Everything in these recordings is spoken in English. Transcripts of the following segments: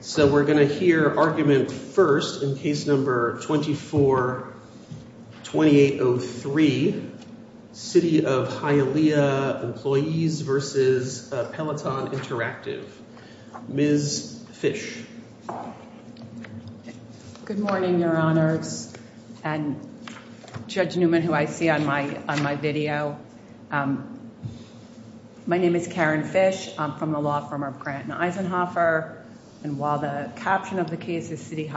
So we're going to hear argument first in case number 24-2803, City of Hialeah Employees v. Peloton Interactive. Ms. Fish. Good morning, Your Honors, and Judge Newman, who I see on my video. My name is Karen Fish. I'm from the law firm of Grant & Eisenhoffer. And while the caption of the case is City of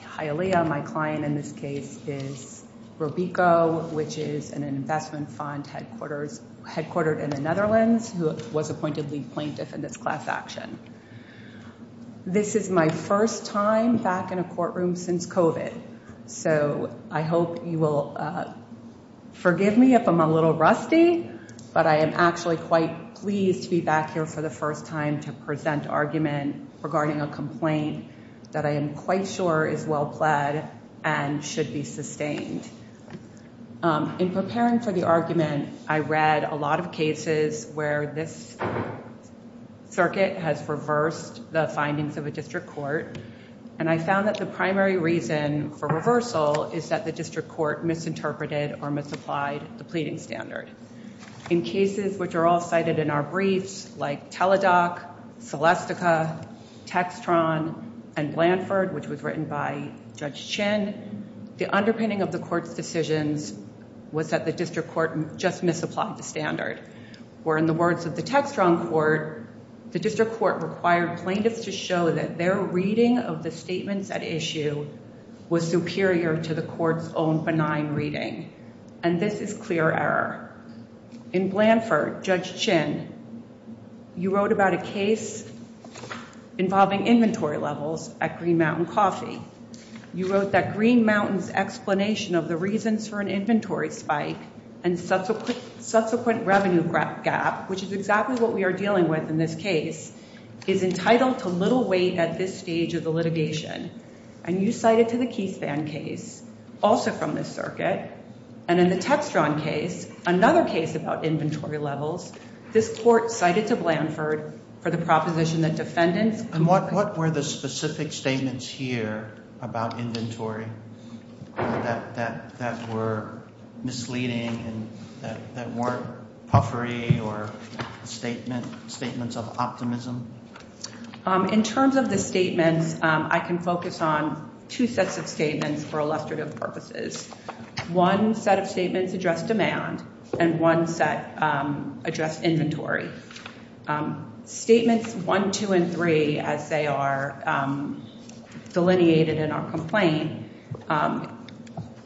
Hialeah, my client in this case is Robico, which is an investment fund headquartered in the Netherlands who was appointed lead plaintiff in this class action. This is my first time back in a courtroom since COVID. So I hope you will forgive me if I'm a little rusty, but I am actually quite pleased to be back here for the first time to present argument regarding a complaint that I am quite sure is well-pled and should be sustained. In preparing for the argument, I read a lot of cases where this circuit has reversed the findings of a district court, and I found that the primary reason for reversal is that the district court misinterpreted or misapplied the pleading standard. In cases which are all cited in our briefs, like Teladoc, Celestica, Textron, and Blanford, which was written by Judge Chin, the underpinning of the court's decisions was that the district court just misapplied the standard. Or in the words of the Textron court, the district court required plaintiffs to show that their reading of the statements at issue was superior to the court's own benign reading. And this is clear error. In Blanford, Judge Chin, you wrote about a case involving inventory levels at Green Mountain Coffee. You wrote that Green Mountain's explanation of the reasons for an inventory spike and subsequent revenue gap, which is exactly what we are dealing with in this case, is entitled to little weight at this stage of the litigation. And you cited to the Keyspan case, also from this circuit, and in the Textron case, another case about inventory levels, this court cited to Blanford for the proposition that defendants... And what were the specific statements here about inventory that were misleading and that weren't puffery or statements of optimism? In terms of the statements, I can focus on two sets of statements for illustrative purposes. One set of statements addressed demand, and one set addressed inventory. Statements one, two, and three, as they are delineated in our complaint,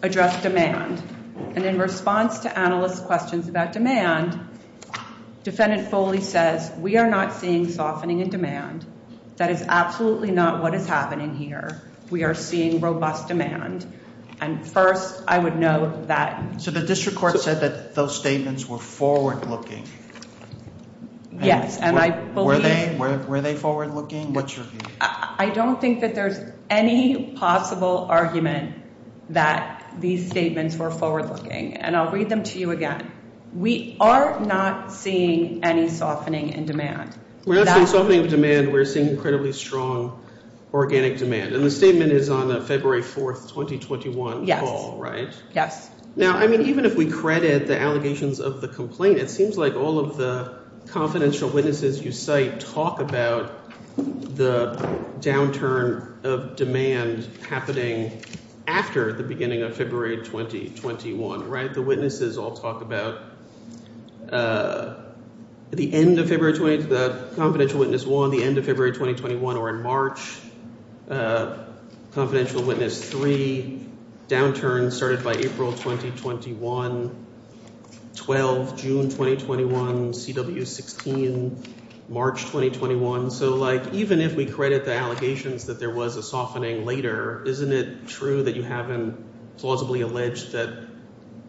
addressed demand. And in response to analysts' questions about demand, defendant Foley says, we are not seeing softening in demand. That is absolutely not what is happening here. We are seeing robust demand. And first, I would note that... So the district court said that those statements were forward-looking? Yes, and I believe... Were they forward-looking? I don't think that there's any possible argument that these statements were forward-looking. And I'll read them to you again. We are not seeing any softening in demand. We're not seeing softening of demand. We're seeing incredibly strong organic demand. And the statement is on February 4th, 2021 call, right? Yes. Now, I mean, even if we credit the allegations of the complaint, it seems like all of the confidential witnesses you cite talk about the downturn of demand happening after the beginning of February 2021, right? The witnesses all talk about the end of February 2021, the confidential witness one, the end of February 2021, or in March, confidential witness three, downturn started by April 2021, 12, June 2021, CW 16, March 2021. So even if we credit the allegations that there was a softening later, isn't it true that you haven't plausibly alleged that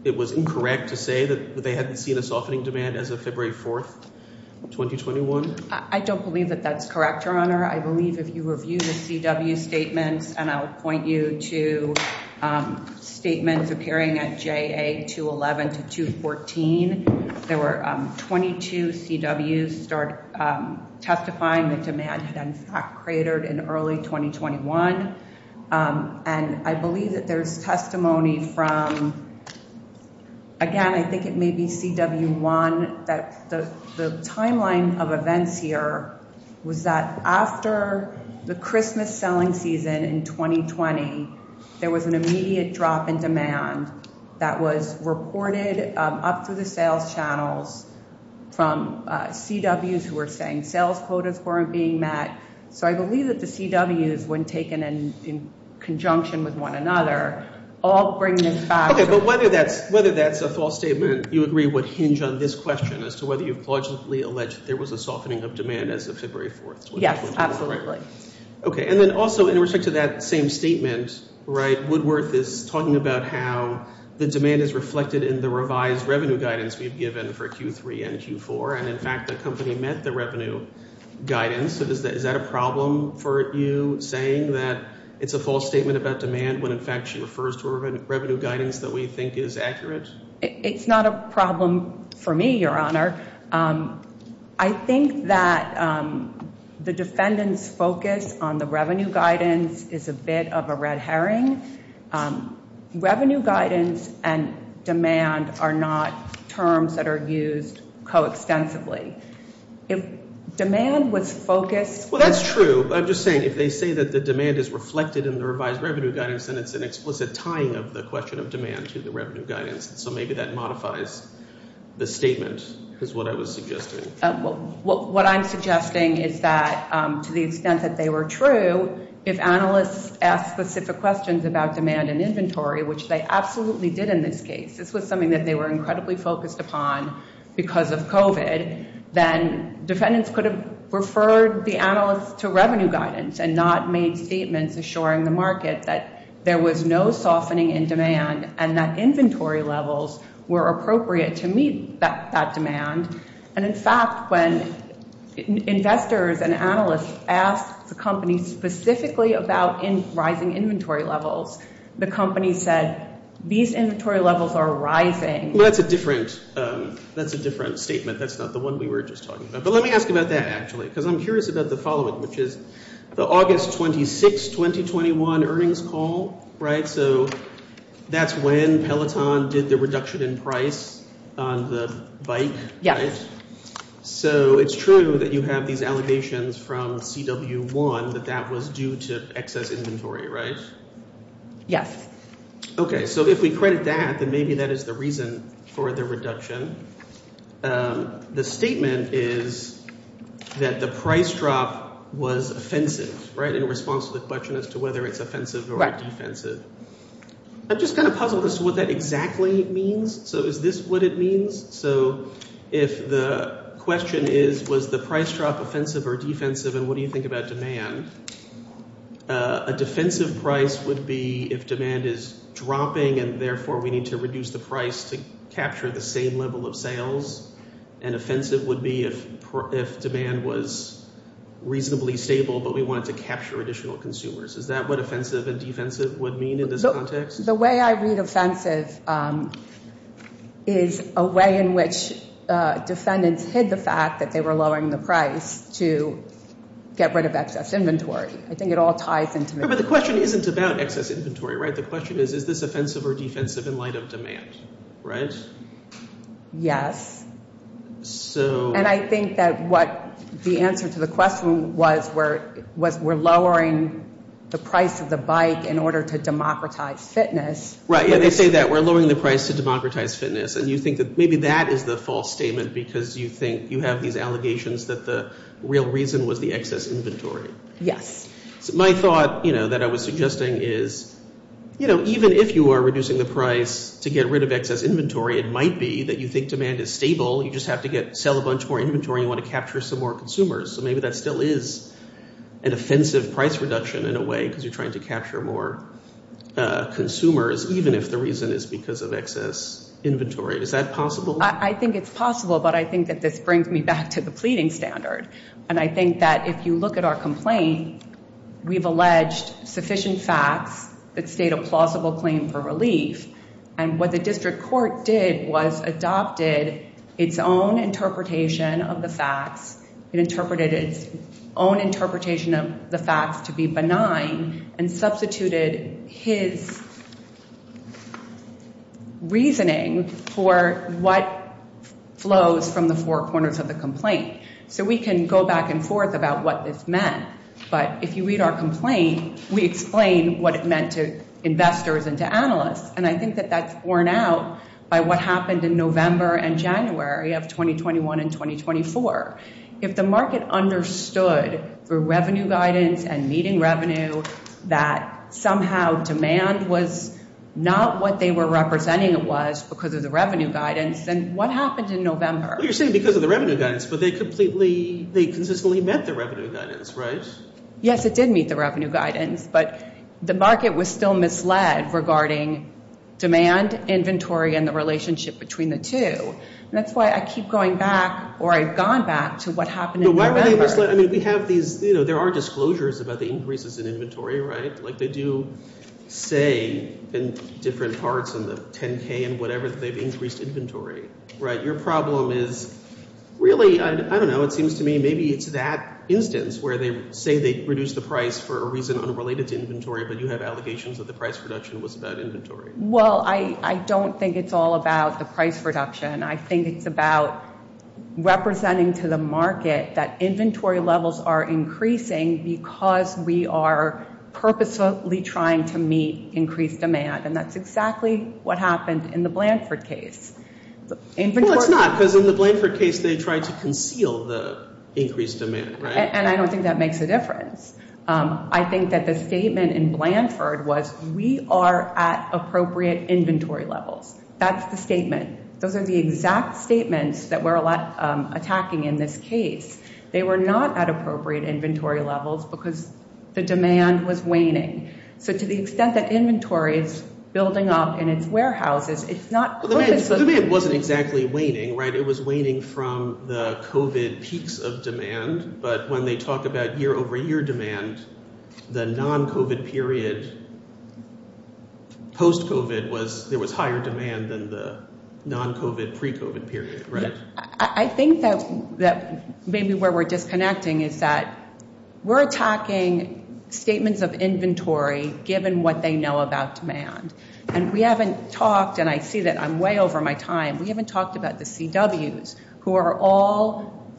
it was incorrect to say that they hadn't seen a softening demand as of February 4th, 2021? I don't believe that that's correct, Your Honor. I believe if you review the CW statements, and I'll point you to statements appearing at JA 211 to 214, there were 22 CWs start testifying that demand had in fact cratered in early 2021. And I believe that there's testimony from, again, I think it may be CW1 that the timeline of events here was that after the Christmas selling season in 2020, there was an immediate drop in demand that was reported up through the sales channels from CWs who were saying sales quotas weren't being met. So I believe that the CWs, when taken in conjunction with one another, all bring this back. Okay. But whether that's a false statement, you agree would hinge on this question as to whether you've plausibly alleged there was a softening of demand as of February 4th, 2021? Yes, absolutely. Okay. And then also in respect to that same statement, right, Woodworth is talking about how the demand is reflected in the revised revenue guidance we've given for Q3 and Q4. And in fact, the company met the revenue guidance. So is that a problem for you saying that it's a false statement about demand when in fact she refers to a revenue guidance that we think is accurate? It's not a problem for me, Your Honor. I think that the defendant's focus on the revenue guidance is a bit of a red herring. Revenue guidance and demand are not terms that are used coextensively. If demand was focused – Well, that's true. I'm just saying if they say that the demand is reflected in the revised revenue guidance, then it's an explicit tying of the question of demand to the revenue guidance. So maybe that modifies the statement is what I was suggesting. What I'm suggesting is that to the extent that they were true, if analysts asked specific questions about demand and inventory, which they absolutely did in this case, this was something that they were incredibly focused upon because of COVID, then defendants could have referred the analysts to revenue guidance and not made statements assuring the market that there was no softening in demand and that inventory levels were appropriate to meet that demand. And in fact, when investors and analysts asked the company specifically about rising inventory levels, the company said these inventory levels are rising. Well, that's a different statement. That's not the one we were just talking about. But let me ask about that, actually, because I'm curious about the following, which is the August 26, 2021 earnings call, right? So that's when Peloton did the reduction in price on the bike? Yes. So it's true that you have these allegations from CW1 that that was due to excess inventory, right? Yes. Okay. So if we credit that, then maybe that is the reason for the reduction. The statement is that the price drop was offensive in response to the question as to whether it's offensive or defensive. I'm just kind of puzzled as to what that exactly means. So is this what it means? So if the question is, was the price drop offensive or defensive and what do you think about demand? A defensive price would be if demand is dropping and therefore we need to reduce the price to capture the same level of sales. And offensive would be if demand was reasonably stable, but we wanted to capture additional consumers. Is that what offensive and defensive would mean in this context? The way I read offensive is a way in which defendants hid the fact that they were lowering the price to get rid of excess inventory. I think it all ties into. But the question isn't about excess inventory, right? The question is, is this offensive or defensive in light of demand, right? Yes. And I think that what the answer to the question was, was we're lowering the price of the bike in order to democratize fitness. Right, yeah, they say that. We're lowering the price to democratize fitness. And you think that maybe that is the false statement because you think you have these allegations that the real reason was the excess inventory. Yes. My thought, you know, that I was suggesting is, you know, even if you are reducing the price to get rid of excess inventory, it might be that you think demand is stable. You just have to sell a bunch more inventory and you want to capture some more consumers. So maybe that still is an offensive price reduction in a way because you're trying to capture more consumers, even if the reason is because of excess inventory. Is that possible? I think it's possible, but I think that this brings me back to the pleading standard. And I think that if you look at our complaint, we've alleged sufficient facts that state a plausible claim for relief. And what the district court did was adopted its own interpretation of the facts. It interpreted its own interpretation of the facts to be benign and substituted his reasoning for what flows from the four corners of the complaint. So we can go back and forth about what this meant. But if you read our complaint, we explain what it meant to investors and to analysts. And I think that that's borne out by what happened in November and January of 2021 and 2024. If the market understood through revenue guidance and meeting revenue that somehow demand was not what they were representing it was because of the revenue guidance, then what happened in November? Well, you're saying because of the revenue guidance, but they completely, they consistently met the revenue guidance, right? Yes, it did meet the revenue guidance, but the market was still misled regarding demand, inventory, and the relationship between the two. And that's why I keep going back or I've gone back to what happened in November. No, why were they misled? I mean, we have these, you know, there are disclosures about the increases in inventory, right? Like they do say in different parts in the 10K and whatever that they've increased inventory, right? But your problem is really, I don't know, it seems to me maybe it's that instance where they say they reduced the price for a reason unrelated to inventory, but you have allegations that the price reduction was about inventory. Well, I don't think it's all about the price reduction. I think it's about representing to the market that inventory levels are increasing because we are purposefully trying to meet increased demand. And that's exactly what happened in the Blanford case. Well, it's not because in the Blanford case they tried to conceal the increased demand, right? And I don't think that makes a difference. I think that the statement in Blanford was we are at appropriate inventory levels. That's the statement. Those are the exact statements that we're attacking in this case. They were not at appropriate inventory levels because the demand was waning. So to the extent that inventory is building up in its warehouses, it's not purposefully. The demand wasn't exactly waning, right? It was waning from the COVID peaks of demand. But when they talk about year-over-year demand, the non-COVID period post-COVID was there was higher demand than the non-COVID pre-COVID period, right? I think that maybe where we're disconnecting is that we're attacking statements of inventory given what they know about demand. And we haven't talked, and I see that I'm way over my time, we haven't talked about the CWs who are all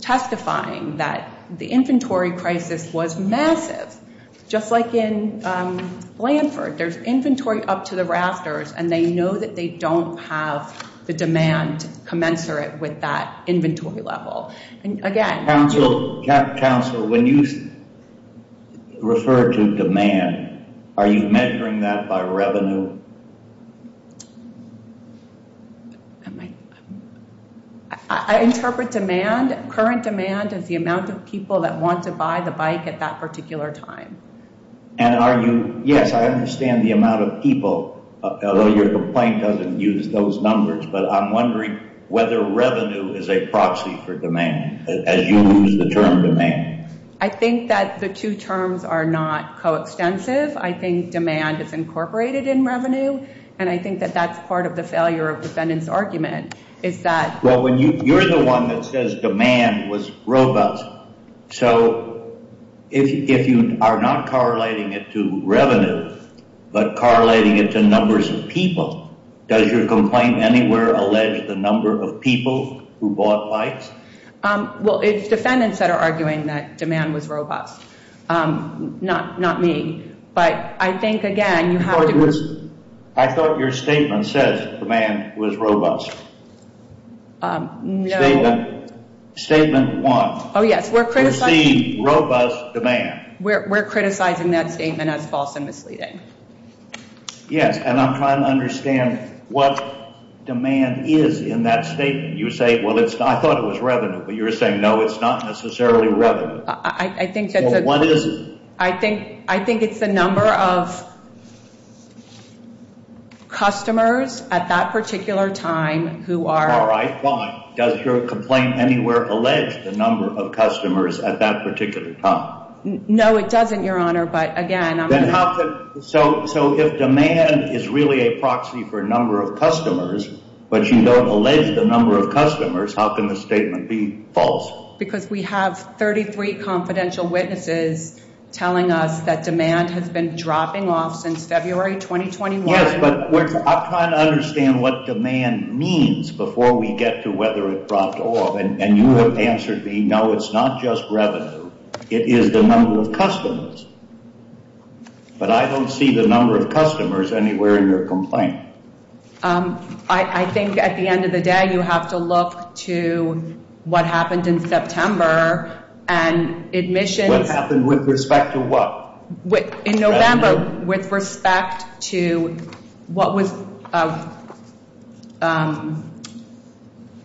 testifying that the inventory crisis was massive. Just like in Blanford, there's inventory up to the rafters, and they know that they don't have the demand commensurate with that inventory level. Again- Council, when you refer to demand, are you measuring that by revenue? I interpret demand, current demand, as the amount of people that want to buy the bike at that particular time. And are you, yes, I understand the amount of people, although your complaint doesn't use those numbers, but I'm wondering whether revenue is a proxy for demand, as you use the term demand. I think that the two terms are not coextensive. I think demand is incorporated in revenue, and I think that that's part of the failure of defendant's argument, is that- Well, you're the one that says demand was robust. So if you are not correlating it to revenue, but correlating it to numbers of people, does your complaint anywhere allege the number of people who bought bikes? Well, it's defendants that are arguing that demand was robust, not me. But I think, again, you have to- I thought your statement says demand was robust. No- Statement one. Oh, yes, we're criticizing- You see robust demand. We're criticizing that statement as false and misleading. Yes, and I'm trying to understand what demand is in that statement. You say, well, I thought it was revenue, but you're saying no, it's not necessarily revenue. I think that's a- Well, what is it? I think it's the number of customers at that particular time who are- All right, fine. Does your complaint anywhere allege the number of customers at that particular time? No, it doesn't, Your Honor, but again- So if demand is really a proxy for number of customers, but you don't allege the number of customers, how can the statement be false? Because we have 33 confidential witnesses telling us that demand has been dropping off since February 2021. Yes, but I'm trying to understand what demand means before we get to whether it dropped off. And you have answered me, no, it's not just revenue, it is the number of customers. But I don't see the number of customers anywhere in your complaint. I think at the end of the day, you have to look to what happened in September and admissions- What happened with respect to what? In November, with respect to what was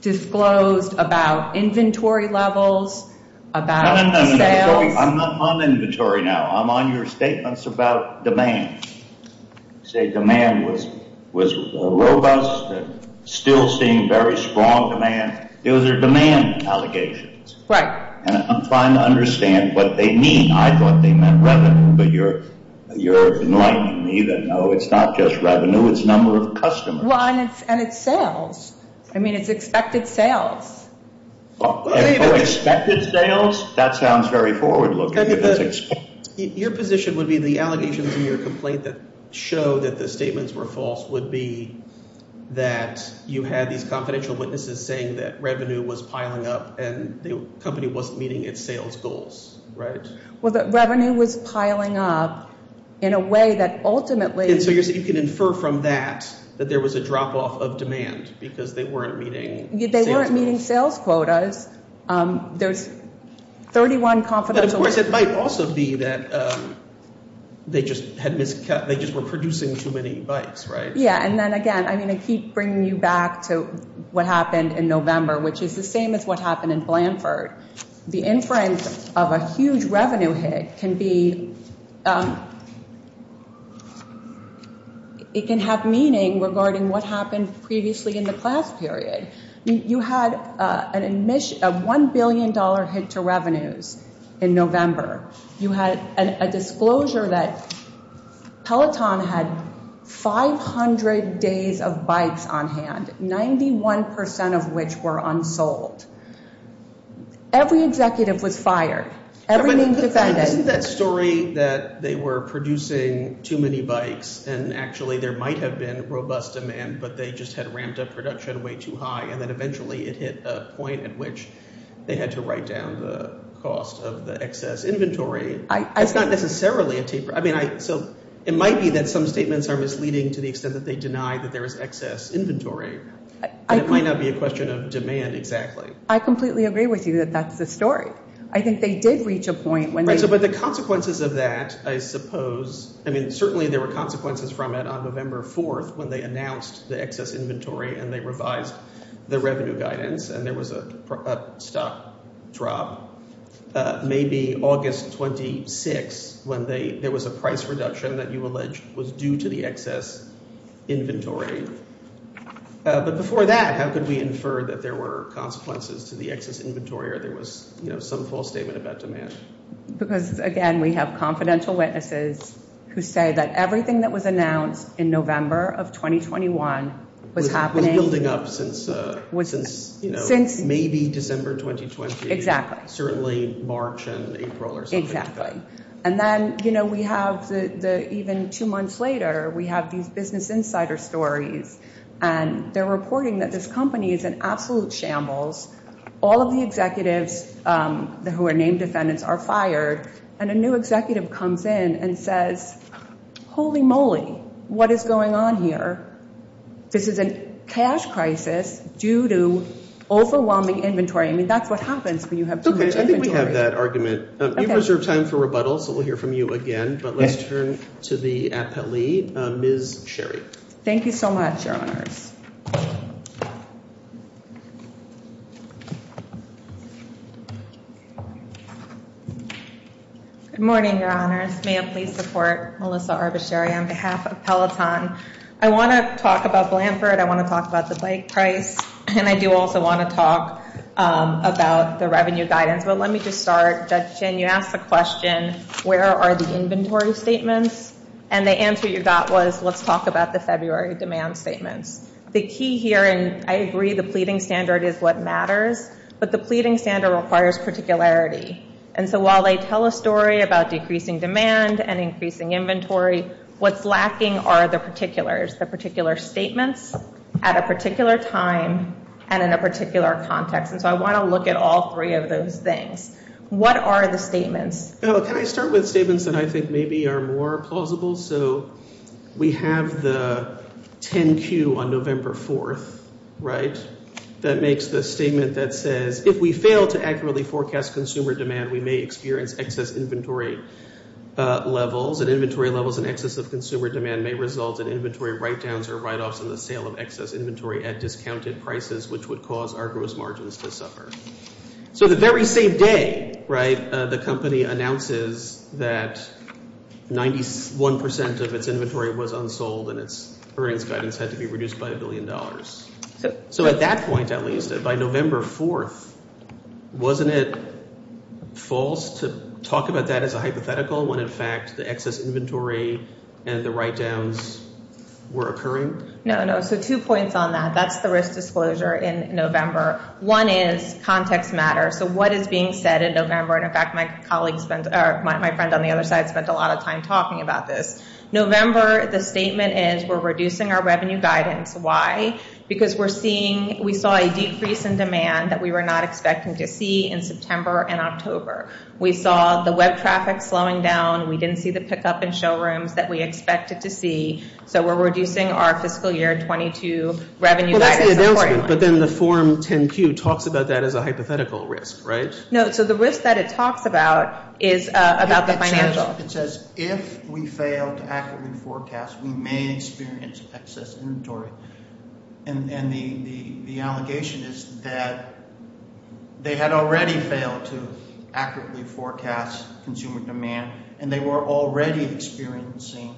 disclosed about inventory levels, about sales- No, no, no, I'm not on inventory now. I'm on your statements about demand. You say demand was robust and still seeing very strong demand. Those are demand allegations. Right. And I'm trying to understand what they mean. I thought they meant revenue, but you're enlightening me that no, it's not just revenue, it's number of customers. Well, and it's sales. I mean, it's expected sales. Expected sales? That sounds very forward-looking. Your position would be the allegations in your complaint that show that the statements were false would be that you had these confidential witnesses saying that revenue was piling up and the company wasn't meeting its sales goals, right? Well, that revenue was piling up in a way that ultimately- And so you can infer from that that there was a drop-off of demand because they weren't meeting sales goals. They weren't meeting sales quotas. There's 31 confidential witnesses. But, of course, it might also be that they just were producing too many bites, right? Yeah, and then, again, I keep bringing you back to what happened in November, which is the same as what happened in Blanford. The inference of a huge revenue hit can be- It can have meaning regarding what happened previously in the class period. You had a $1 billion hit to revenues in November. You had a disclosure that Peloton had 500 days of bites on hand, 91% of which were unsold. Every executive was fired. Isn't that story that they were producing too many bites and actually there might have been robust demand, but they just had ramped up production way too high, and then eventually it hit a point at which they had to write down the cost of the excess inventory? It's not necessarily a taper. I mean, so it might be that some statements are misleading to the extent that they deny that there is excess inventory. It might not be a question of demand exactly. I completely agree with you that that's the story. I think they did reach a point when they- Right, but the consequences of that, I suppose- I mean, certainly there were consequences from it on November 4th when they announced the excess inventory and they revised the revenue guidance and there was a stock drop. Maybe August 26th when there was a price reduction that you allege was due to the excess inventory. But before that, how could we infer that there were consequences to the excess inventory or there was some full statement about demand? Because, again, we have confidential witnesses who say that everything that was announced in November of 2021 was happening- Was building up since maybe December 2020. Exactly. Certainly March and April or something like that. And then we have even two months later, we have these business insider stories and they're reporting that this company is in absolute shambles. All of the executives who are named defendants are fired and a new executive comes in and says, Holy moly, what is going on here? This is a cash crisis due to overwhelming inventory. I mean, that's what happens when you have too much inventory. Okay, I think we have that argument. We've reserved time for rebuttal, so we'll hear from you again. But let's turn to the appellee, Ms. Sherry. Thank you so much, Your Honors. Good morning, Your Honors. May I please support Melissa Arbacheri on behalf of Peloton? I want to talk about Blanford. I want to talk about the bike price. And I do also want to talk about the revenue guidance. But let me just start. Judge Chin, you asked the question, where are the inventory statements? And the answer you got was, let's talk about the February demand statements. The key here, and I agree the pleading standard is what matters, but the pleading standard requires particularity. And so while they tell a story about decreasing demand and increasing inventory, what's lacking are the particulars, the particular statements at a particular time and in a particular context. And so I want to look at all three of those things. What are the statements? Can I start with statements that I think maybe are more plausible? So we have the 10Q on November 4th, right, that makes the statement that says, if we fail to accurately forecast consumer demand, we may experience excess inventory levels. And inventory levels and excess of consumer demand may result in inventory write-downs or write-offs and the sale of excess inventory at discounted prices, which would cause our gross margins to suffer. So the very same day, right, the company announces that 91% of its inventory was unsold and its earnings guidance had to be reduced by a billion dollars. So at that point, at least, by November 4th, wasn't it false to talk about that as a hypothetical when, in fact, the excess inventory and the write-downs were occurring? No, no. So two points on that. That's the risk disclosure in November. One is context matters. So what is being said in November? And, in fact, my friend on the other side spent a lot of time talking about this. November, the statement is we're reducing our revenue guidance. Why? Because we saw a decrease in demand that we were not expecting to see in September and October. We saw the web traffic slowing down. We didn't see the pickup in showrooms that we expected to see. So we're reducing our fiscal year 22 revenue guidance. Well, that's the announcement, but then the Form 10-Q talks about that as a hypothetical risk, right? No. So the risk that it talks about is about the financial. It says if we fail to accurately forecast, we may experience excess inventory. And the allegation is that they had already failed to accurately forecast consumer demand, and they were already experiencing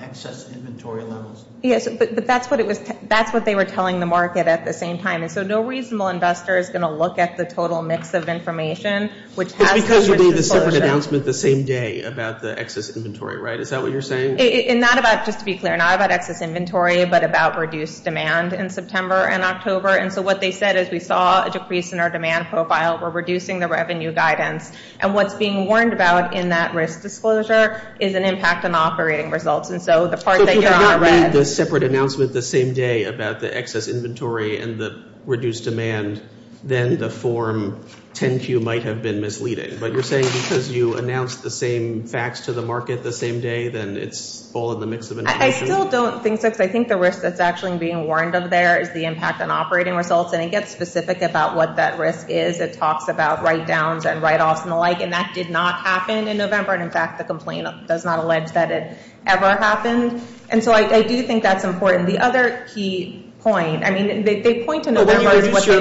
excess inventory levels. Yes, but that's what they were telling the market at the same time. So no reasonable investor is going to look at the total mix of information, which has to be risk disclosure. It's because you made a separate announcement the same day about the excess inventory, right? Is that what you're saying? And not about, just to be clear, not about excess inventory, but about reduced demand in September and October. And so what they said is we saw a decrease in our demand profile. We're reducing the revenue guidance. And what's being warned about in that risk disclosure is an impact on operating results. And so the part that you're on are red. So if you had made the separate announcement the same day about the excess inventory and the reduced demand, then the Form 10-Q might have been misleading. But you're saying because you announced the same facts to the market the same day, then it's all in the mix of information? I still don't think so, because I think the risk that's actually being warned of there is the impact on operating results. And it gets specific about what that risk is. It talks about write-downs and write-offs and the like. And that did not happen in November. And, in fact, the complaint does not allege that it ever happened. And so I do think that's important. The other key point, I mean, they point to November as what they call – Does that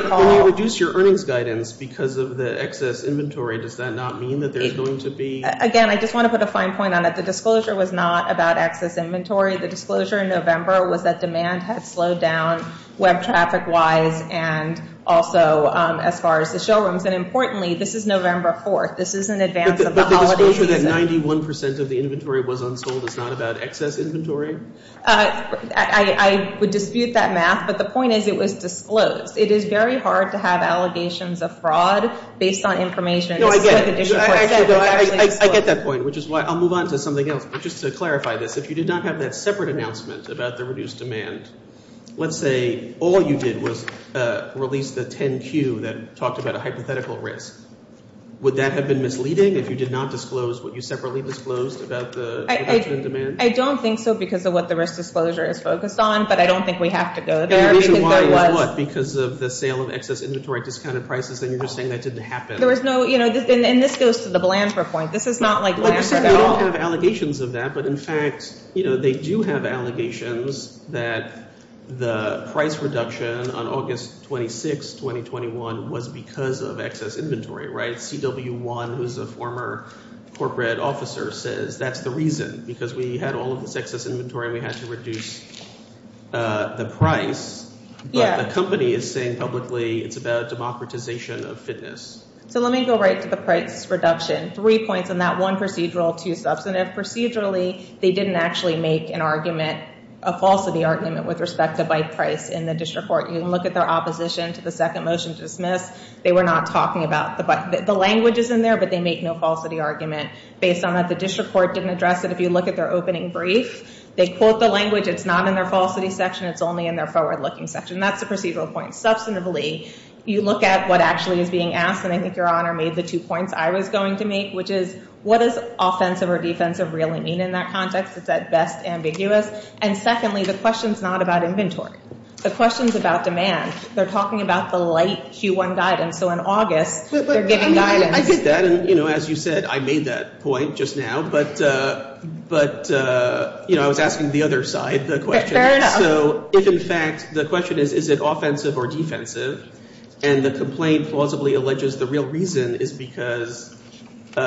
not mean that there's going to be – Again, I just want to put a fine point on it. The disclosure was not about excess inventory. The disclosure in November was that demand had slowed down web traffic-wise and also as far as the showrooms. And, importantly, this is November 4th. This is in advance of the holiday season. But the disclosure that 91% of the inventory was unsold is not about excess inventory? I would dispute that math. But the point is it was disclosed. It is very hard to have allegations of fraud based on information. No, I get it. I get that point, which is why I'll move on to something else. But just to clarify this, if you did not have that separate announcement about the reduced demand, let's say all you did was release the 10-Q that talked about a hypothetical risk. Would that have been misleading if you did not disclose what you separately disclosed about the reduction in demand? I don't think so because of what the risk disclosure is focused on, but I don't think we have to go there. And the reason why is what? Because of the sale of excess inventory at discounted prices, and you're just saying that didn't happen. There was no – and this goes to the Blanford point. This is not like Blanford at all. We don't have allegations of that, but, in fact, they do have allegations that the price reduction on August 26, 2021, was because of excess inventory, right? CW1, who is a former corporate officer, says that's the reason because we had all of this excess inventory and we had to reduce the price, but the company is saying publicly it's about democratization of fitness. So let me go right to the price reduction. Three points on that. One, procedural. Two, substantive. Procedurally, they didn't actually make an argument, a falsity argument, with respect to bike price in the district court. You can look at their opposition to the second motion to dismiss. They were not talking about the bike – the language is in there, but they make no falsity argument. Based on that, the district court didn't address it. If you look at their opening brief, they quote the language. It's not in their falsity section. It's only in their forward-looking section. That's the procedural point. Substantively, you look at what actually is being asked, and I think Your Honor made the two points I was going to make, which is what does offensive or defensive really mean in that context? It's, at best, ambiguous. And, secondly, the question is not about inventory. The question is about demand. They're talking about the light Q1 guidance. So in August, they're giving guidance. I get that, and as you said, I made that point just now. But I was asking the other side the question. So if, in fact, the question is is it offensive or defensive, and the complaint plausibly alleges the real reason is because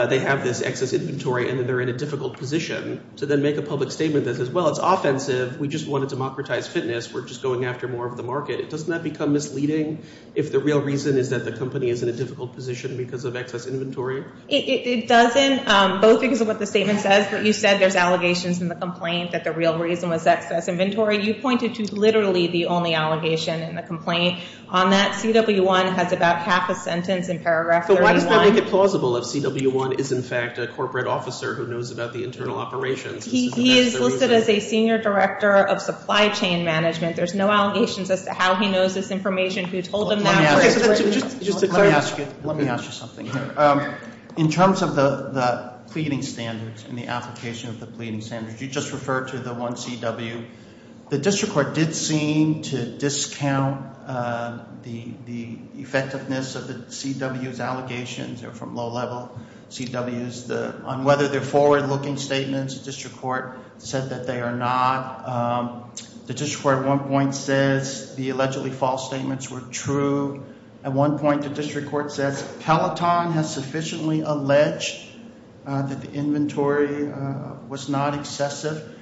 they have this excess inventory and that they're in a difficult position, to then make a public statement that says, well, it's offensive. We just want to democratize fitness. We're just going after more of the market. Doesn't that become misleading if the real reason is that the company is in a difficult position because of excess inventory? It doesn't, both because of what the statement says. But you said there's allegations in the complaint that the real reason was excess inventory. You pointed to literally the only allegation in the complaint. On that, CW1 has about half a sentence in paragraph 31. But why does that make it plausible if CW1 is, in fact, a corporate officer who knows about the internal operations? He is listed as a senior director of supply chain management. There's no allegations as to how he knows this information, who told him that. Let me ask you something here. In terms of the pleading standards and the application of the pleading standards, you just referred to the one CW. The district court did seem to discount the effectiveness of the CW's allegations. They're from low-level CWs. On whether they're forward-looking statements, the district court said that they are not. The district court at one point says the allegedly false statements were true. At one point, the district court says Peloton has sufficiently alleged that the inventory was not excessive.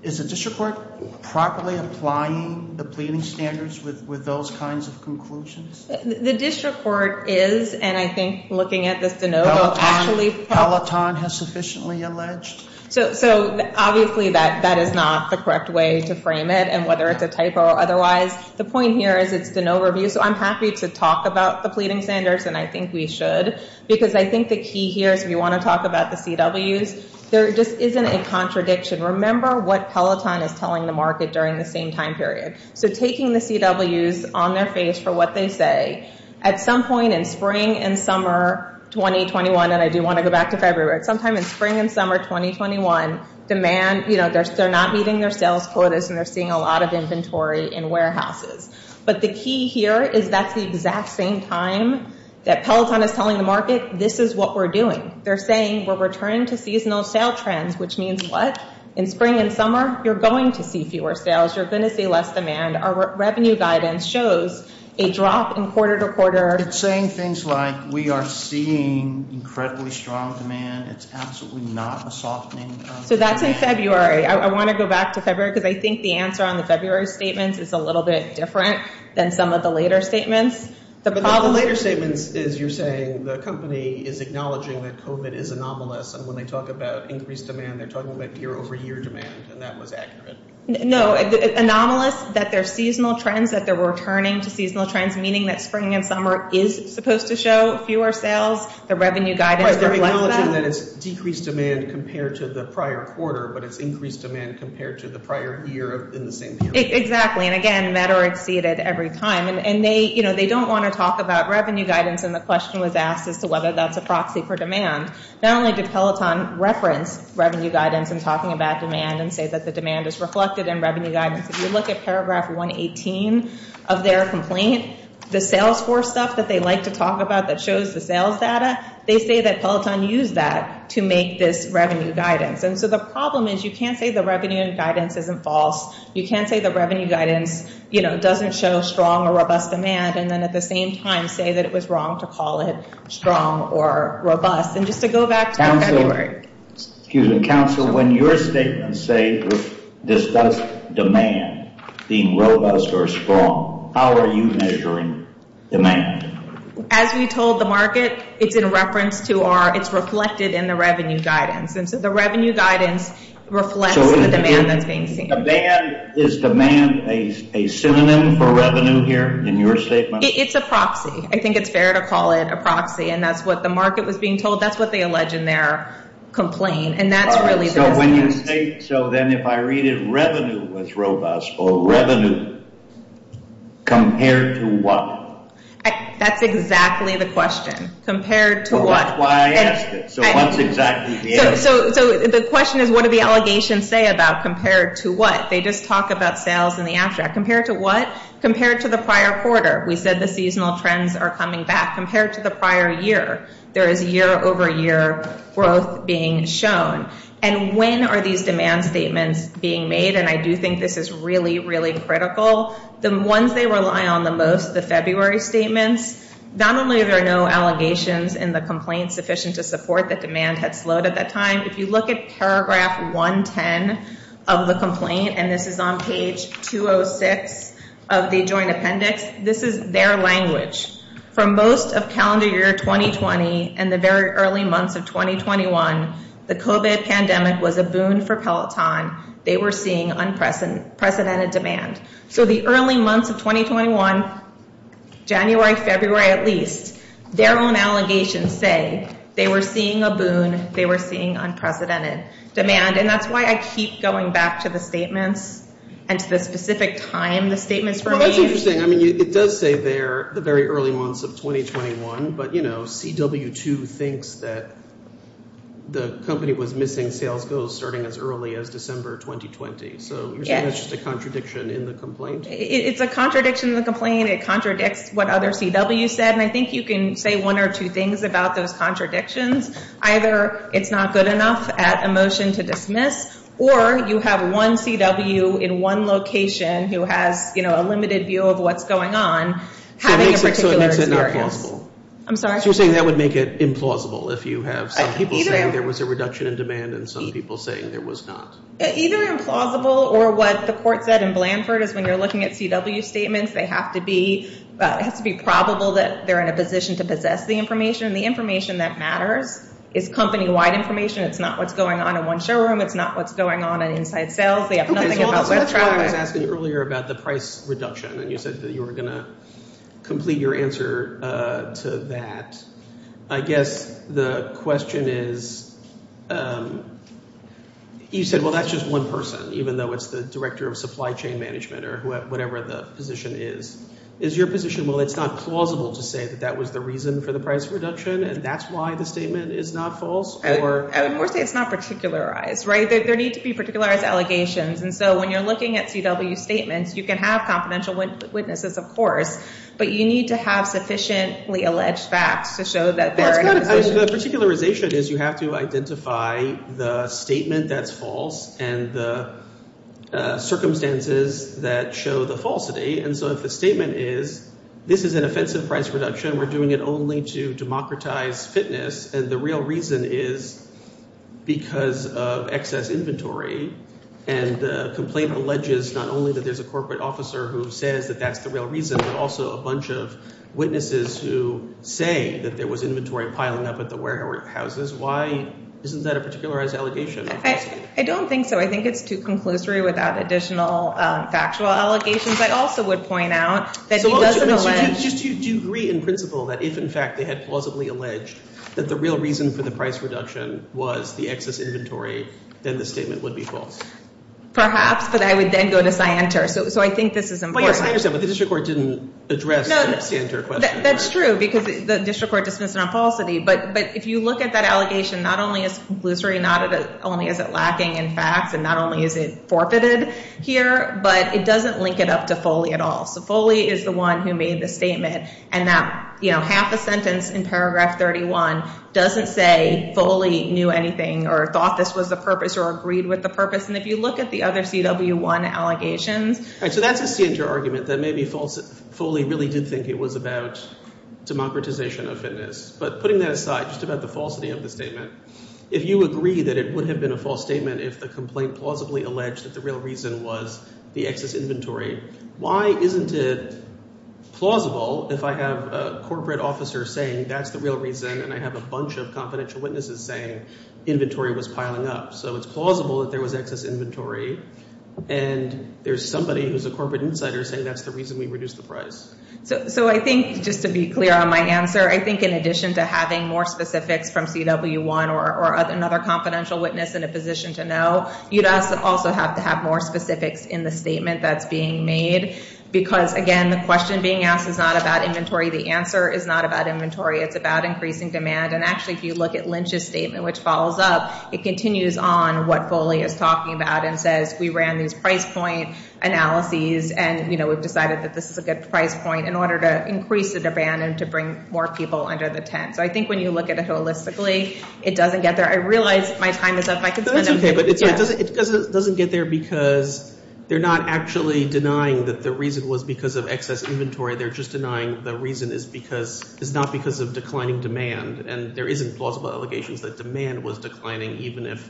Is the district court properly applying the pleading standards with those kinds of conclusions? The district court is, and I think looking at this de novo, actually- Peloton has sufficiently alleged? So, obviously, that is not the correct way to frame it, and whether it's a typo or otherwise. The point here is it's de novo review, so I'm happy to talk about the pleading standards, and I think we should, because I think the key here is we want to talk about the CWs. There just isn't a contradiction. Remember what Peloton is telling the market during the same time period. So taking the CWs on their face for what they say, at some point in spring and summer 2021, and I do want to go back to February. Sometime in spring and summer 2021, demand, you know, they're not meeting their sales quotas, and they're seeing a lot of inventory in warehouses. But the key here is that's the exact same time that Peloton is telling the market this is what we're doing. They're saying we're returning to seasonal sale trends, which means what? In spring and summer, you're going to see fewer sales. You're going to see less demand. Our revenue guidance shows a drop in quarter-to-quarter. It's saying things like we are seeing incredibly strong demand. It's absolutely not a softening. So that's in February. I want to go back to February, because I think the answer on the February statements is a little bit different than some of the later statements. The later statements is you're saying the company is acknowledging that COVID is anomalous, and when they talk about increased demand, they're talking about year-over-year demand, and that was accurate. No, anomalous, that they're seasonal trends, that they're returning to seasonal trends, meaning that spring and summer is supposed to show fewer sales. The revenue guidance reflects that. They're acknowledging that it's decreased demand compared to the prior quarter, but it's increased demand compared to the prior year in the same period. Exactly, and again, better exceeded every time. And they don't want to talk about revenue guidance, and the question was asked as to whether that's a proxy for demand. Not only did Peloton reference revenue guidance in talking about demand and say that the demand is reflected in revenue guidance. If you look at paragraph 118 of their complaint, the salesforce stuff that they like to talk about that shows the sales data, they say that Peloton used that to make this revenue guidance. And so the problem is you can't say the revenue guidance isn't false. You can't say the revenue guidance, you know, doesn't show strong or robust demand, and then at the same time say that it was wrong to call it strong or robust. And just to go back to February. Excuse me, counsel. When your statements say this does demand being robust or strong, how are you measuring demand? As we told the market, it's in reference to our, it's reflected in the revenue guidance. And so the revenue guidance reflects the demand that's being seen. Demand, is demand a synonym for revenue here in your statement? It's a proxy. I think it's fair to call it a proxy, and that's what the market was being told. That's what they allege in their complaint, and that's really the message. So when you say, so then if I read it revenue was robust or revenue, compared to what? That's exactly the question. Compared to what? Well, that's why I asked it. So what's exactly the answer? So the question is what do the allegations say about compared to what? They just talk about sales in the abstract. Compared to what? Compared to the prior quarter. We said the seasonal trends are coming back. Compared to the prior year, there is year over year growth being shown. And when are these demand statements being made? And I do think this is really, really critical. The ones they rely on the most, the February statements, not only are there no allegations in the complaint sufficient to support that demand had slowed at that time, if you look at paragraph 110 of the complaint, and this is on page 206 of the joint appendix, this is their language. For most of calendar year 2020 and the very early months of 2021, the COVID pandemic was a boon for Peloton. They were seeing unprecedented demand. So the early months of 2021, January, February at least, their own allegations say they were seeing a boon, they were seeing unprecedented demand. And that's why I keep going back to the statements and to the specific time the statements were made. Well, that's interesting. I mean, it does say there the very early months of 2021, but, you know, CW2 thinks that the company was missing sales goals starting as early as December 2020. So you're saying that's just a contradiction in the complaint? It's a contradiction in the complaint. It contradicts what other CWs said. And I think you can say one or two things about those contradictions. Either it's not good enough at a motion to dismiss, or you have one CW in one location who has, you know, a limited view of what's going on. So it makes it not plausible. I'm sorry? So you're saying that would make it implausible if you have some people saying there was a reduction in demand and some people saying there was not. Either implausible or what the court said in Blanford is when you're looking at CW statements, they have to be probable that they're in a position to possess the information. And the information that matters is company-wide information. It's not what's going on in one showroom. It's not what's going on in inside sales. They have nothing about web traffic. So that's why I was asking you earlier about the price reduction, and you said that you were going to complete your answer to that. I guess the question is you said, well, that's just one person, even though it's the director of supply chain management or whatever the position is. Is your position, well, it's not plausible to say that that was the reason for the price reduction, and that's why the statement is not false? I would more say it's not particularized, right? There need to be particularized allegations. And so when you're looking at CW statements, you can have confidential witnesses, of course, but you need to have sufficiently alleged facts to show that they're in a position. The particularization is you have to identify the statement that's false and the circumstances that show the falsity. And so if the statement is this is an offensive price reduction, we're doing it only to democratize fitness, and the real reason is because of excess inventory, and the complaint alleges not only that there's a corporate officer who says that that's the real reason, but also a bunch of witnesses who say that there was inventory piling up at the warehouses, why isn't that a particularized allegation? I don't think so. I think it's too conclusory without additional factual allegations. I also would point out that he doesn't allege. So do you agree in principle that if, in fact, they had plausibly alleged that the real reason for the price reduction was the excess inventory, then the statement would be false? Perhaps, but I would then go to scienter, so I think this is important. Well, yes, I understand, but the district court didn't address the scienter question. That's true because the district court dismissed it on falsity, but if you look at that allegation, not only is it conclusory, not only is it lacking in facts, and not only is it forfeited here, but it doesn't link it up to Foley at all. So Foley is the one who made the statement, and that half a sentence in paragraph 31 doesn't say Foley knew anything or thought this was the purpose or agreed with the purpose, and if you look at the other CW1 allegations. So that's a scienter argument that maybe Foley really did think it was about democratization of fitness, but putting that aside, just about the falsity of the statement, if you agree that it would have been a false statement if the complaint plausibly alleged that the real reason was the excess inventory, why isn't it plausible if I have a corporate officer saying that's the real reason and I have a bunch of confidential witnesses saying inventory was piling up? So it's plausible that there was excess inventory, and there's somebody who's a corporate insider saying that's the reason we reduced the price. So I think just to be clear on my answer, I think in addition to having more specifics from CW1 or another confidential witness in a position to know, you'd also have to have more specifics in the statement that's being made, because, again, the question being asked is not about inventory. The answer is not about inventory. It's about increasing demand, and actually if you look at Lynch's statement, which follows up, it continues on what Foley is talking about and says we ran these price point analyses and we've decided that this is a good price point in order to increase the demand and to bring more people under the tent. So I think when you look at it holistically, it doesn't get there. I realize my time is up. That's okay, but it doesn't get there because they're not actually denying that the reason was because of excess inventory. They're just denying the reason is not because of declining demand, and there isn't plausible allegations that demand was declining even if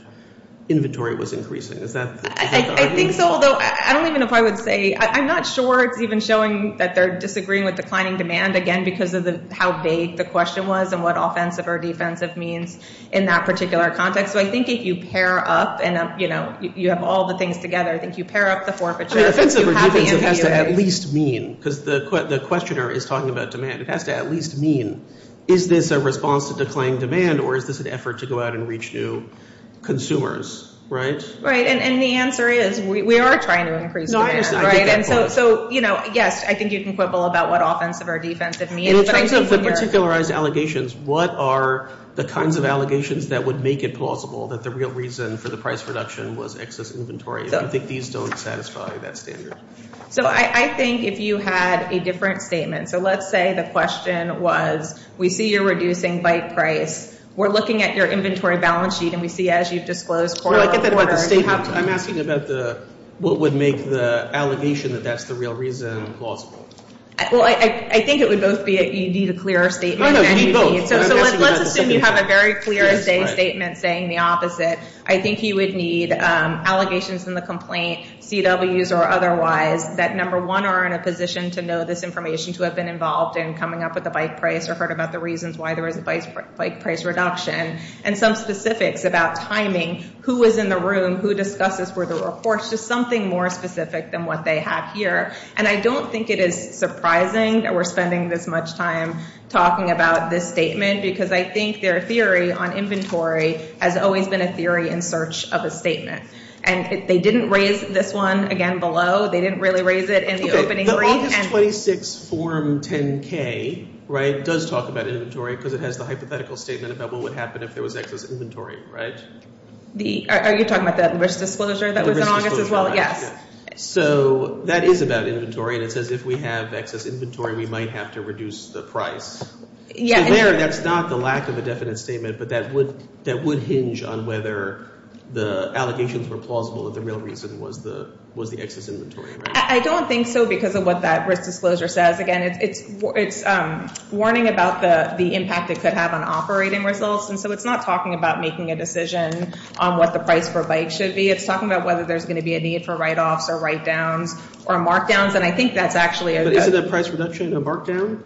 inventory was increasing. I think so, although I don't even know if I would say – I'm not sure it's even showing that they're disagreeing with declining demand, again, because of how vague the question was and what offensive or defensive means in that particular context. So I think if you pair up and, you know, you have all the things together, I think you pair up the forfeiture. Offensive or defensive has to at least mean, because the questioner is talking about demand, it has to at least mean is this a response to declining demand or is this an effort to go out and reach new consumers, right? Right, and the answer is we are trying to increase demand. So, you know, yes, I think you can quibble about what offensive or defensive means. In terms of the particularized allegations, what are the kinds of allegations that would make it plausible that the real reason for the price reduction was excess inventory? I think these don't satisfy that standard. So I think if you had a different statement, so let's say the question was, we see you're reducing bite price, we're looking at your inventory balance sheet and we see as you've disclosed quarter to quarter. I'm asking about what would make the allegation that that's the real reason plausible. Well, I think it would both be that you need a clearer statement. No, no, you need both. So let's assume you have a very clear statement saying the opposite. I think you would need allegations in the complaint, CWs or otherwise, that, number one, are in a position to know this information, to have been involved in coming up with the bite price or heard about the reasons why there was a bite price reduction, and some specifics about timing, who was in the room, who discusses where the reports, just something more specific than what they have here. And I don't think it is surprising that we're spending this much time talking about this statement because I think their theory on inventory has always been a theory in search of a statement. And they didn't raise this one, again, below. They didn't really raise it in the opening brief. August 26, Form 10-K, right, does talk about inventory because it has the hypothetical statement about what would happen if there was excess inventory, right? Are you talking about the risk disclosure that was in August as well? Yes. So that is about inventory, and it says if we have excess inventory, we might have to reduce the price. So there, that's not the lack of a definite statement, but that would hinge on whether the allegations were plausible that the real reason was the excess inventory. I don't think so because of what that risk disclosure says. Again, it's warning about the impact it could have on operating results, and so it's not talking about making a decision on what the price per byte should be. It's talking about whether there's going to be a need for write-offs or write-downs or mark-downs, and I think that's actually a good. But isn't that price reduction a mark-down?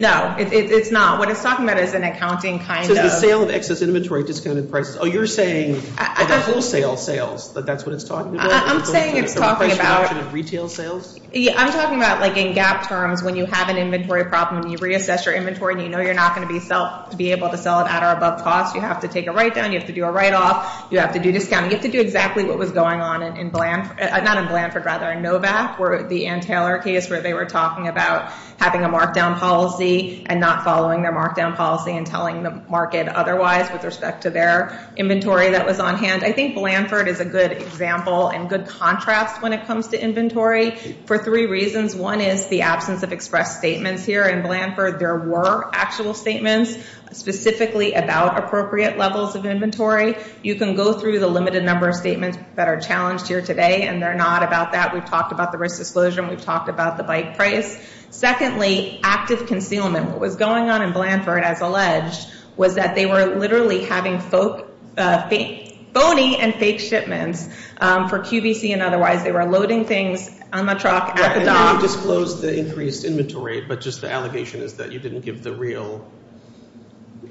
No, it's not. What it's talking about is an accounting kind of. So the sale of excess inventory discounted prices. Oh, you're saying the wholesale sales, that that's what it's talking about? I'm saying it's talking about. The price reduction of retail sales? I'm talking about like in gap terms when you have an inventory problem and you reassess your inventory and you know you're not going to be able to sell it at or above cost. You have to take a write-down. You have to do a write-off. You have to do discounting. You have to do exactly what was going on in Blanford, not in Blanford, rather in Novak, where the Ann Taylor case where they were talking about having a mark-down policy and not following their mark-down policy and telling the market otherwise with respect to their inventory that was on hand. I think Blanford is a good example and good contrast when it comes to inventory for three reasons. One is the absence of express statements here in Blanford. There were actual statements specifically about appropriate levels of inventory. You can go through the limited number of statements that are challenged here today, and they're not about that. We've talked about the risk disclosure and we've talked about the bike price. Secondly, active concealment. What was going on in Blanford, as alleged, was that they were literally having phony and fake shipments for QVC and otherwise. They were loading things on the truck at the dock. You disclosed the increased inventory, but just the allegation is that you didn't give the real,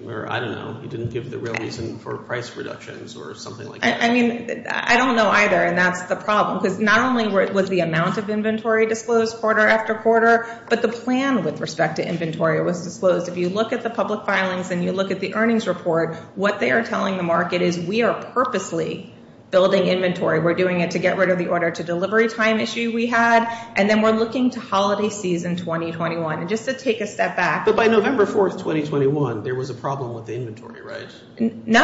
or I don't know, you didn't give the real reason for price reductions or something like that. I mean, I don't know either, and that's the problem. Because not only was the amount of inventory disclosed quarter after quarter, but the plan with respect to inventory was disclosed. If you look at the public filings and you look at the earnings report, what they are telling the market is we are purposely building inventory. We're doing it to get rid of the order to delivery time issue we had, and then we're looking to holiday season 2021. And just to take a step back. But by November 4th, 2021, there was a problem with the inventory, right? No.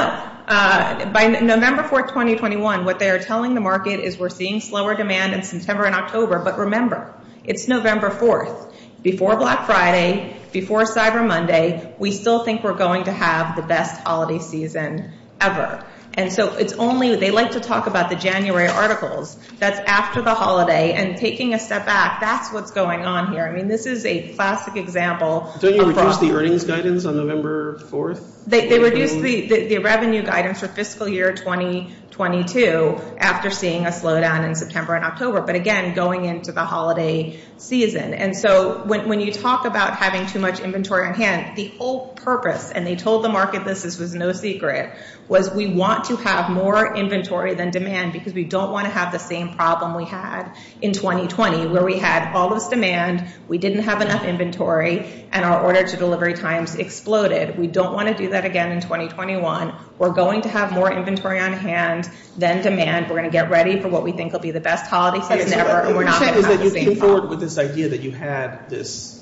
By November 4th, 2021, what they are telling the market is we're seeing slower demand in September and October. But remember, it's November 4th. Before Black Friday, before Cyber Monday, we still think we're going to have the best holiday season ever. And so it's only, they like to talk about the January articles. That's after the holiday. And taking a step back, that's what's going on here. I mean, this is a classic example. Don't you reduce the earnings guidance on November 4th? They reduce the revenue guidance for fiscal year 2022 after seeing a slowdown in September and October. But, again, going into the holiday season. And so when you talk about having too much inventory on hand, the whole purpose, and they told the market this was no secret, was we want to have more inventory than demand because we don't want to have the same problem we had in 2020 where we had all this demand, we didn't have enough inventory, and our order to delivery times exploded. We don't want to do that again in 2021. We're going to have more inventory on hand than demand. We're going to get ready for what we think will be the best holiday season ever, and we're not going to have the same problem. You came forward with this idea that you had this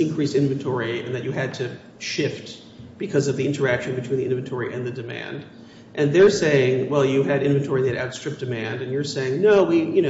increased inventory and that you had to shift because of the interaction between the inventory and the demand. And they're saying, well, you had inventory that outstripped demand. And you're saying, no, we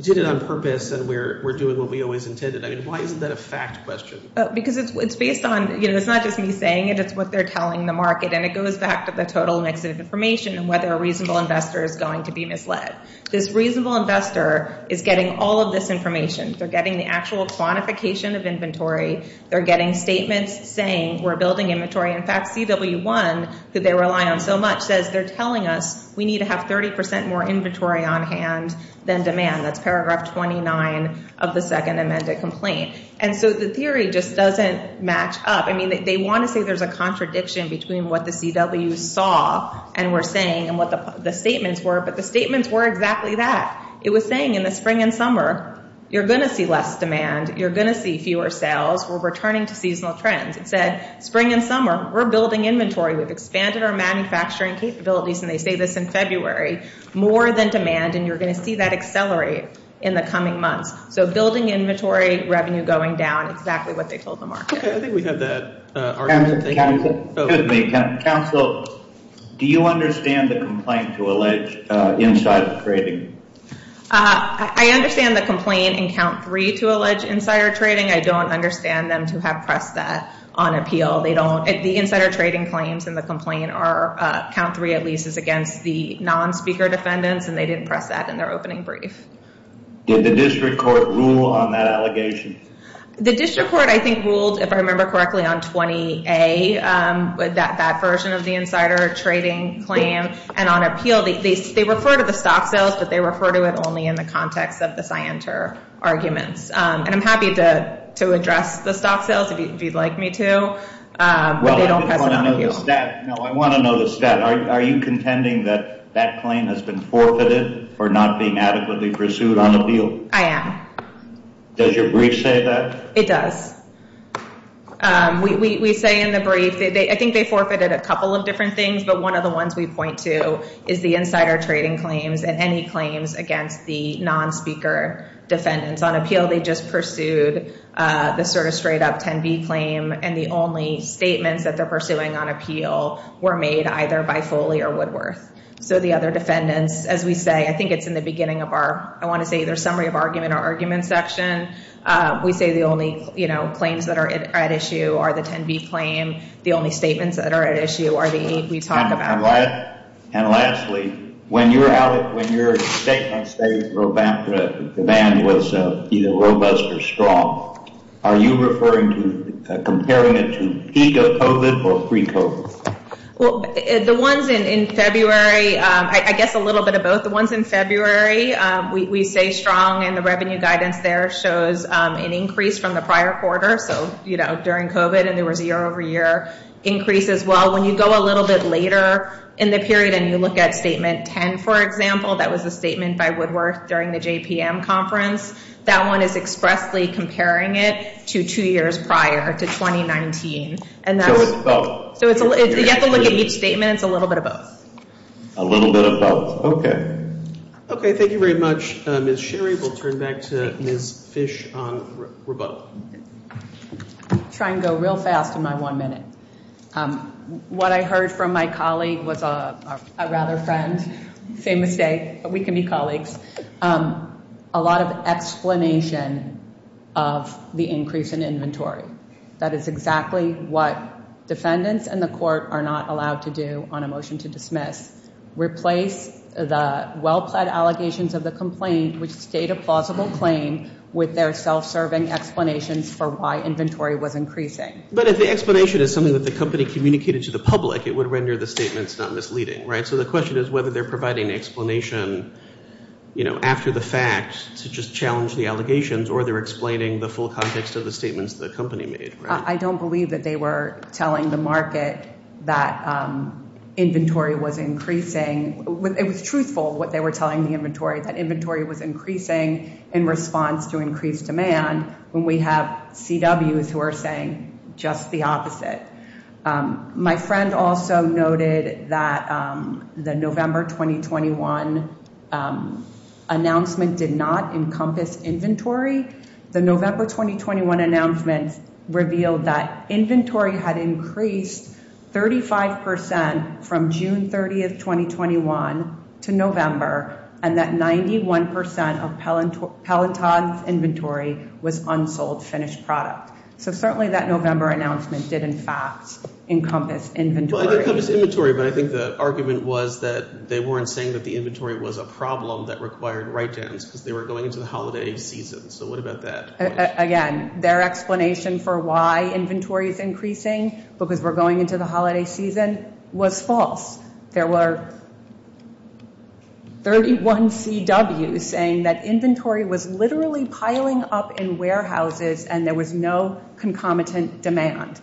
did it on purpose, and we're doing what we always intended. I mean, why isn't that a fact question? Because it's based on, you know, it's not just me saying it. It's what they're telling the market. And it goes back to the total mix of information and whether a reasonable investor is going to be misled. This reasonable investor is getting all of this information. They're getting the actual quantification of inventory. They're getting statements saying we're building inventory. In fact, CW1, who they rely on so much, says they're telling us we need to have 30% more inventory on hand than demand. That's paragraph 29 of the second amended complaint. And so the theory just doesn't match up. I mean, they want to say there's a contradiction between what the CW saw and were saying and what the statements were, but the statements were exactly that. It was saying in the spring and summer, you're going to see less demand. You're going to see fewer sales. We're returning to seasonal trends. It said spring and summer, we're building inventory. We've expanded our manufacturing capabilities, and they say this in February, more than demand, and you're going to see that accelerate in the coming months. So building inventory, revenue going down, exactly what they told the market. I think we have that argument. Excuse me. Counsel, do you understand the complaint to allege insider trading? I understand the complaint in count three to allege insider trading. I don't understand them to have pressed that on appeal. They don't. The insider trading claims in the complaint are, count three at least, is against the non-speaker defendants, and they didn't press that in their opening brief. Did the district court rule on that allegation? The district court, I think, ruled, if I remember correctly, on 20-A, that version of the insider trading claim, and on appeal. They refer to the stock sales, but they refer to it only in the context of the Scienter arguments, and I'm happy to address the stock sales if you'd like me to, but they don't press it on appeal. I want to know the stat. Are you contending that that claim has been forfeited for not being adequately pursued on appeal? I am. Does your brief say that? It does. We say in the brief, I think they forfeited a couple of different things, but one of the ones we point to is the insider trading claims and any claims against the non-speaker defendants. On appeal, they just pursued the sort of straight-up 10-B claim, and the only statements that they're pursuing on appeal were made either by Foley or Woodworth. So the other defendants, as we say, I think it's in the beginning of our, I want to say either summary of argument or argument section, we say the only claims that are at issue are the 10-B claim. The only statements that are at issue are the eight we talk about. And lastly, when your statements say the demand was either robust or strong, are you referring to comparing it to peak of COVID or pre-COVID? Well, the ones in February, I guess a little bit of both. The ones in February, we say strong, and the revenue guidance there shows an increase from the prior quarter, so during COVID and there was a year-over-year increase as well. When you go a little bit later in the period and you look at Statement 10, for example, that was a statement by Woodworth during the JPM conference, that one is expressly comparing it to two years prior to 2019. So it's both? You have to look at each statement. It's a little bit of both. A little bit of both. Okay. Okay. Thank you very much, Ms. Sherry. We'll turn back to Ms. Fish on rebuttal. I'll try and go real fast in my one minute. What I heard from my colleague was a rather friend. Same mistake, but we can be colleagues. A lot of explanation of the increase in inventory. That is exactly what defendants and the court are not allowed to do on a motion to dismiss. Replace the well-pled allegations of the complaint which state a plausible claim with their self-serving explanations for why inventory was increasing. But if the explanation is something that the company communicated to the public, it would render the statements not misleading, right? So the question is whether they're providing an explanation, you know, after the fact to just challenge the allegations Or they're explaining the full context of the statements that the company made. I don't believe that they were telling the market that inventory was increasing. It was truthful what they were telling the inventory, that inventory was increasing in response to increased demand. When we have CWs who are saying just the opposite. My friend also noted that the November 2021 announcement did not encompass inventory. The November 2021 announcement revealed that inventory had increased 35% from June 30th, 2021 to November. And that 91% of Peloton's inventory was unsold finished product. So certainly that November announcement did, in fact, encompass inventory. But I think the argument was that they weren't saying that the inventory was a problem that required write-downs because they were going into the holiday season. So what about that? Again, their explanation for why inventory is increasing, because we're going into the holiday season, was false. There were 31 CWs saying that inventory was literally piling up in warehouses and there was no concomitant demand.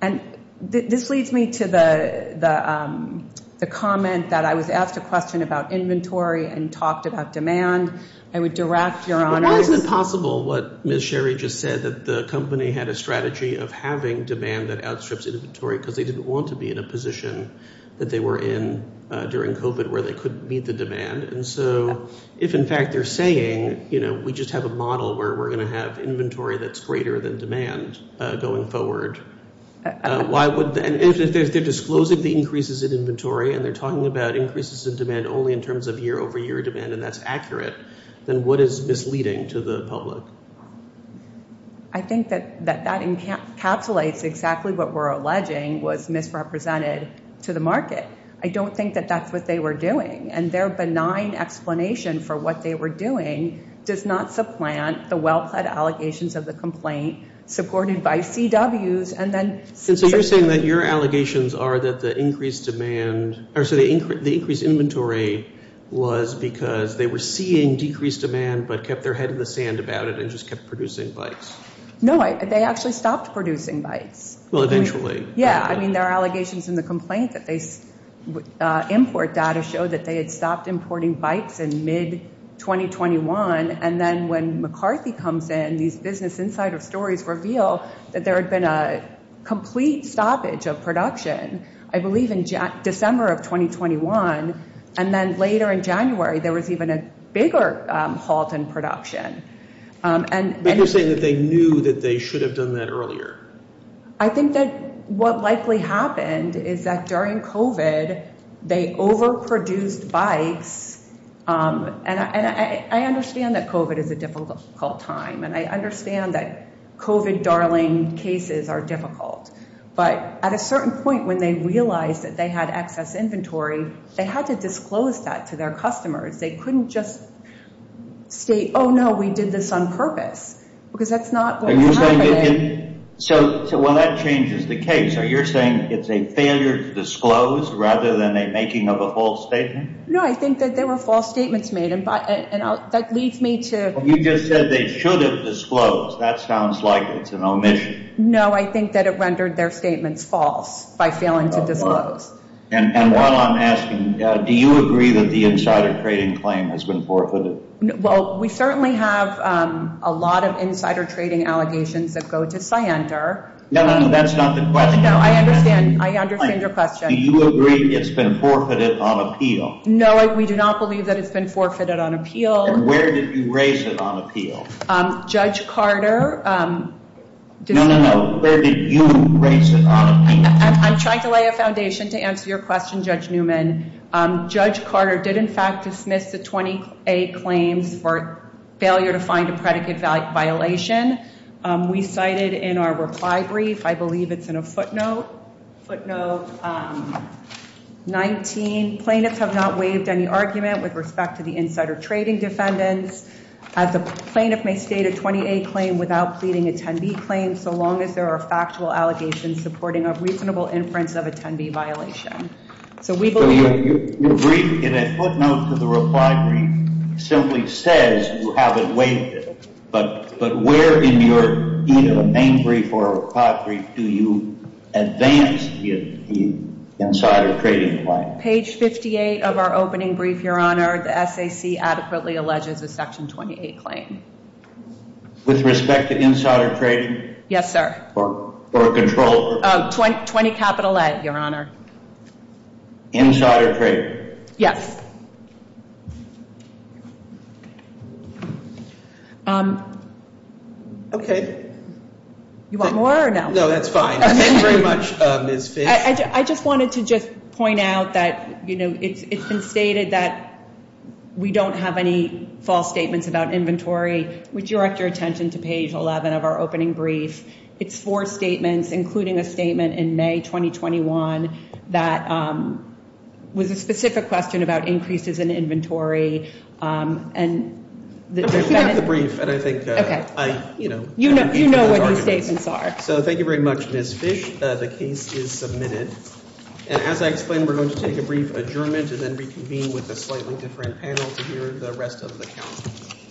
And this leads me to the comment that I was asked a question about inventory and talked about demand. I would direct your honors. But why is it possible what Ms. Sherry just said, that the company had a strategy of having demand that outstrips inventory because they didn't want to be in a position that they were in during COVID where they couldn't meet the demand. And so if, in fact, they're saying, you know, we're going to have inventory that's greater than demand going forward, if they're disclosing the increases in inventory and they're talking about increases in demand only in terms of year-over-year demand and that's accurate, then what is misleading to the public? I think that that encapsulates exactly what we're alleging was misrepresented to the market. I don't think that that's what they were doing. And their benign explanation for what they were doing does not supplant the well-planned allegations of the complaint supported by CWs. And so you're saying that your allegations are that the increased demand or the increased inventory was because they were seeing decreased demand but kept their head in the sand about it and just kept producing bikes. No, they actually stopped producing bikes. Well, eventually. Yeah, I mean, there are allegations in the complaint that they import data show that they had stopped importing bikes in mid-2021. And then when McCarthy comes in, these business insider stories reveal that there had been a complete stoppage of production, I believe, in December of 2021. And then later in January, there was even a bigger halt in production. But you're saying that they knew that they should have done that earlier. I think that what likely happened is that during COVID, they overproduced bikes. And I understand that COVID is a difficult time. And I understand that COVID darling cases are difficult. But at a certain point when they realized that they had excess inventory, they had to disclose that to their customers. They couldn't just state, oh, no, we did this on purpose. Because that's not what's happening. So, well, that changes the case. Are you saying it's a failure to disclose rather than a making of a false statement? No, I think that they were false statements made. And that leads me to… You just said they should have disclosed. That sounds like it's an omission. No, I think that it rendered their statements false by failing to disclose. And while I'm asking, do you agree that the insider trading claim has been forfeited? Well, we certainly have a lot of insider trading allegations that go to Scienter. No, no, no, that's not the question. No, I understand. I understand your question. Do you agree it's been forfeited on appeal? No, we do not believe that it's been forfeited on appeal. And where did you raise it on appeal? Judge Carter… No, no, no. Where did you raise it on appeal? I'm trying to lay a foundation to answer your question, Judge Newman. Judge Carter did, in fact, dismiss the 20A claims for failure to find a predicate violation. We cited in our reply brief, I believe it's in a footnote, footnote 19, plaintiffs have not waived any argument with respect to the insider trading defendants. The plaintiff may state a 20A claim without pleading a 10B claim so long as there are factual allegations supporting a reasonable inference of a 10B violation. Your brief, in a footnote to the reply brief, simply says you haven't waived it. But where in your main brief or reply brief do you advance the insider trading claim? Page 58 of our opening brief, Your Honor, the SAC adequately alleges a Section 28 claim. With respect to insider trading? Yes, sir. Or a controller? 20 capital A, Your Honor. Insider trading? Yes. Okay. You want more or no? No, that's fine. Thank you very much, Ms. Fish. I just wanted to just point out that, you know, it's been stated that we don't have any false statements about inventory. Would you direct your attention to page 11 of our opening brief? It's four statements, including a statement in May 2021 that was a specific question about increases in inventory. And the defendant... I've read the brief, and I think I, you know... You know what these statements are. So thank you very much, Ms. Fish. The case is submitted. And as I explained, we're going to take a brief adjournment and then reconvene with a slightly different panel to hear the rest of the counsel.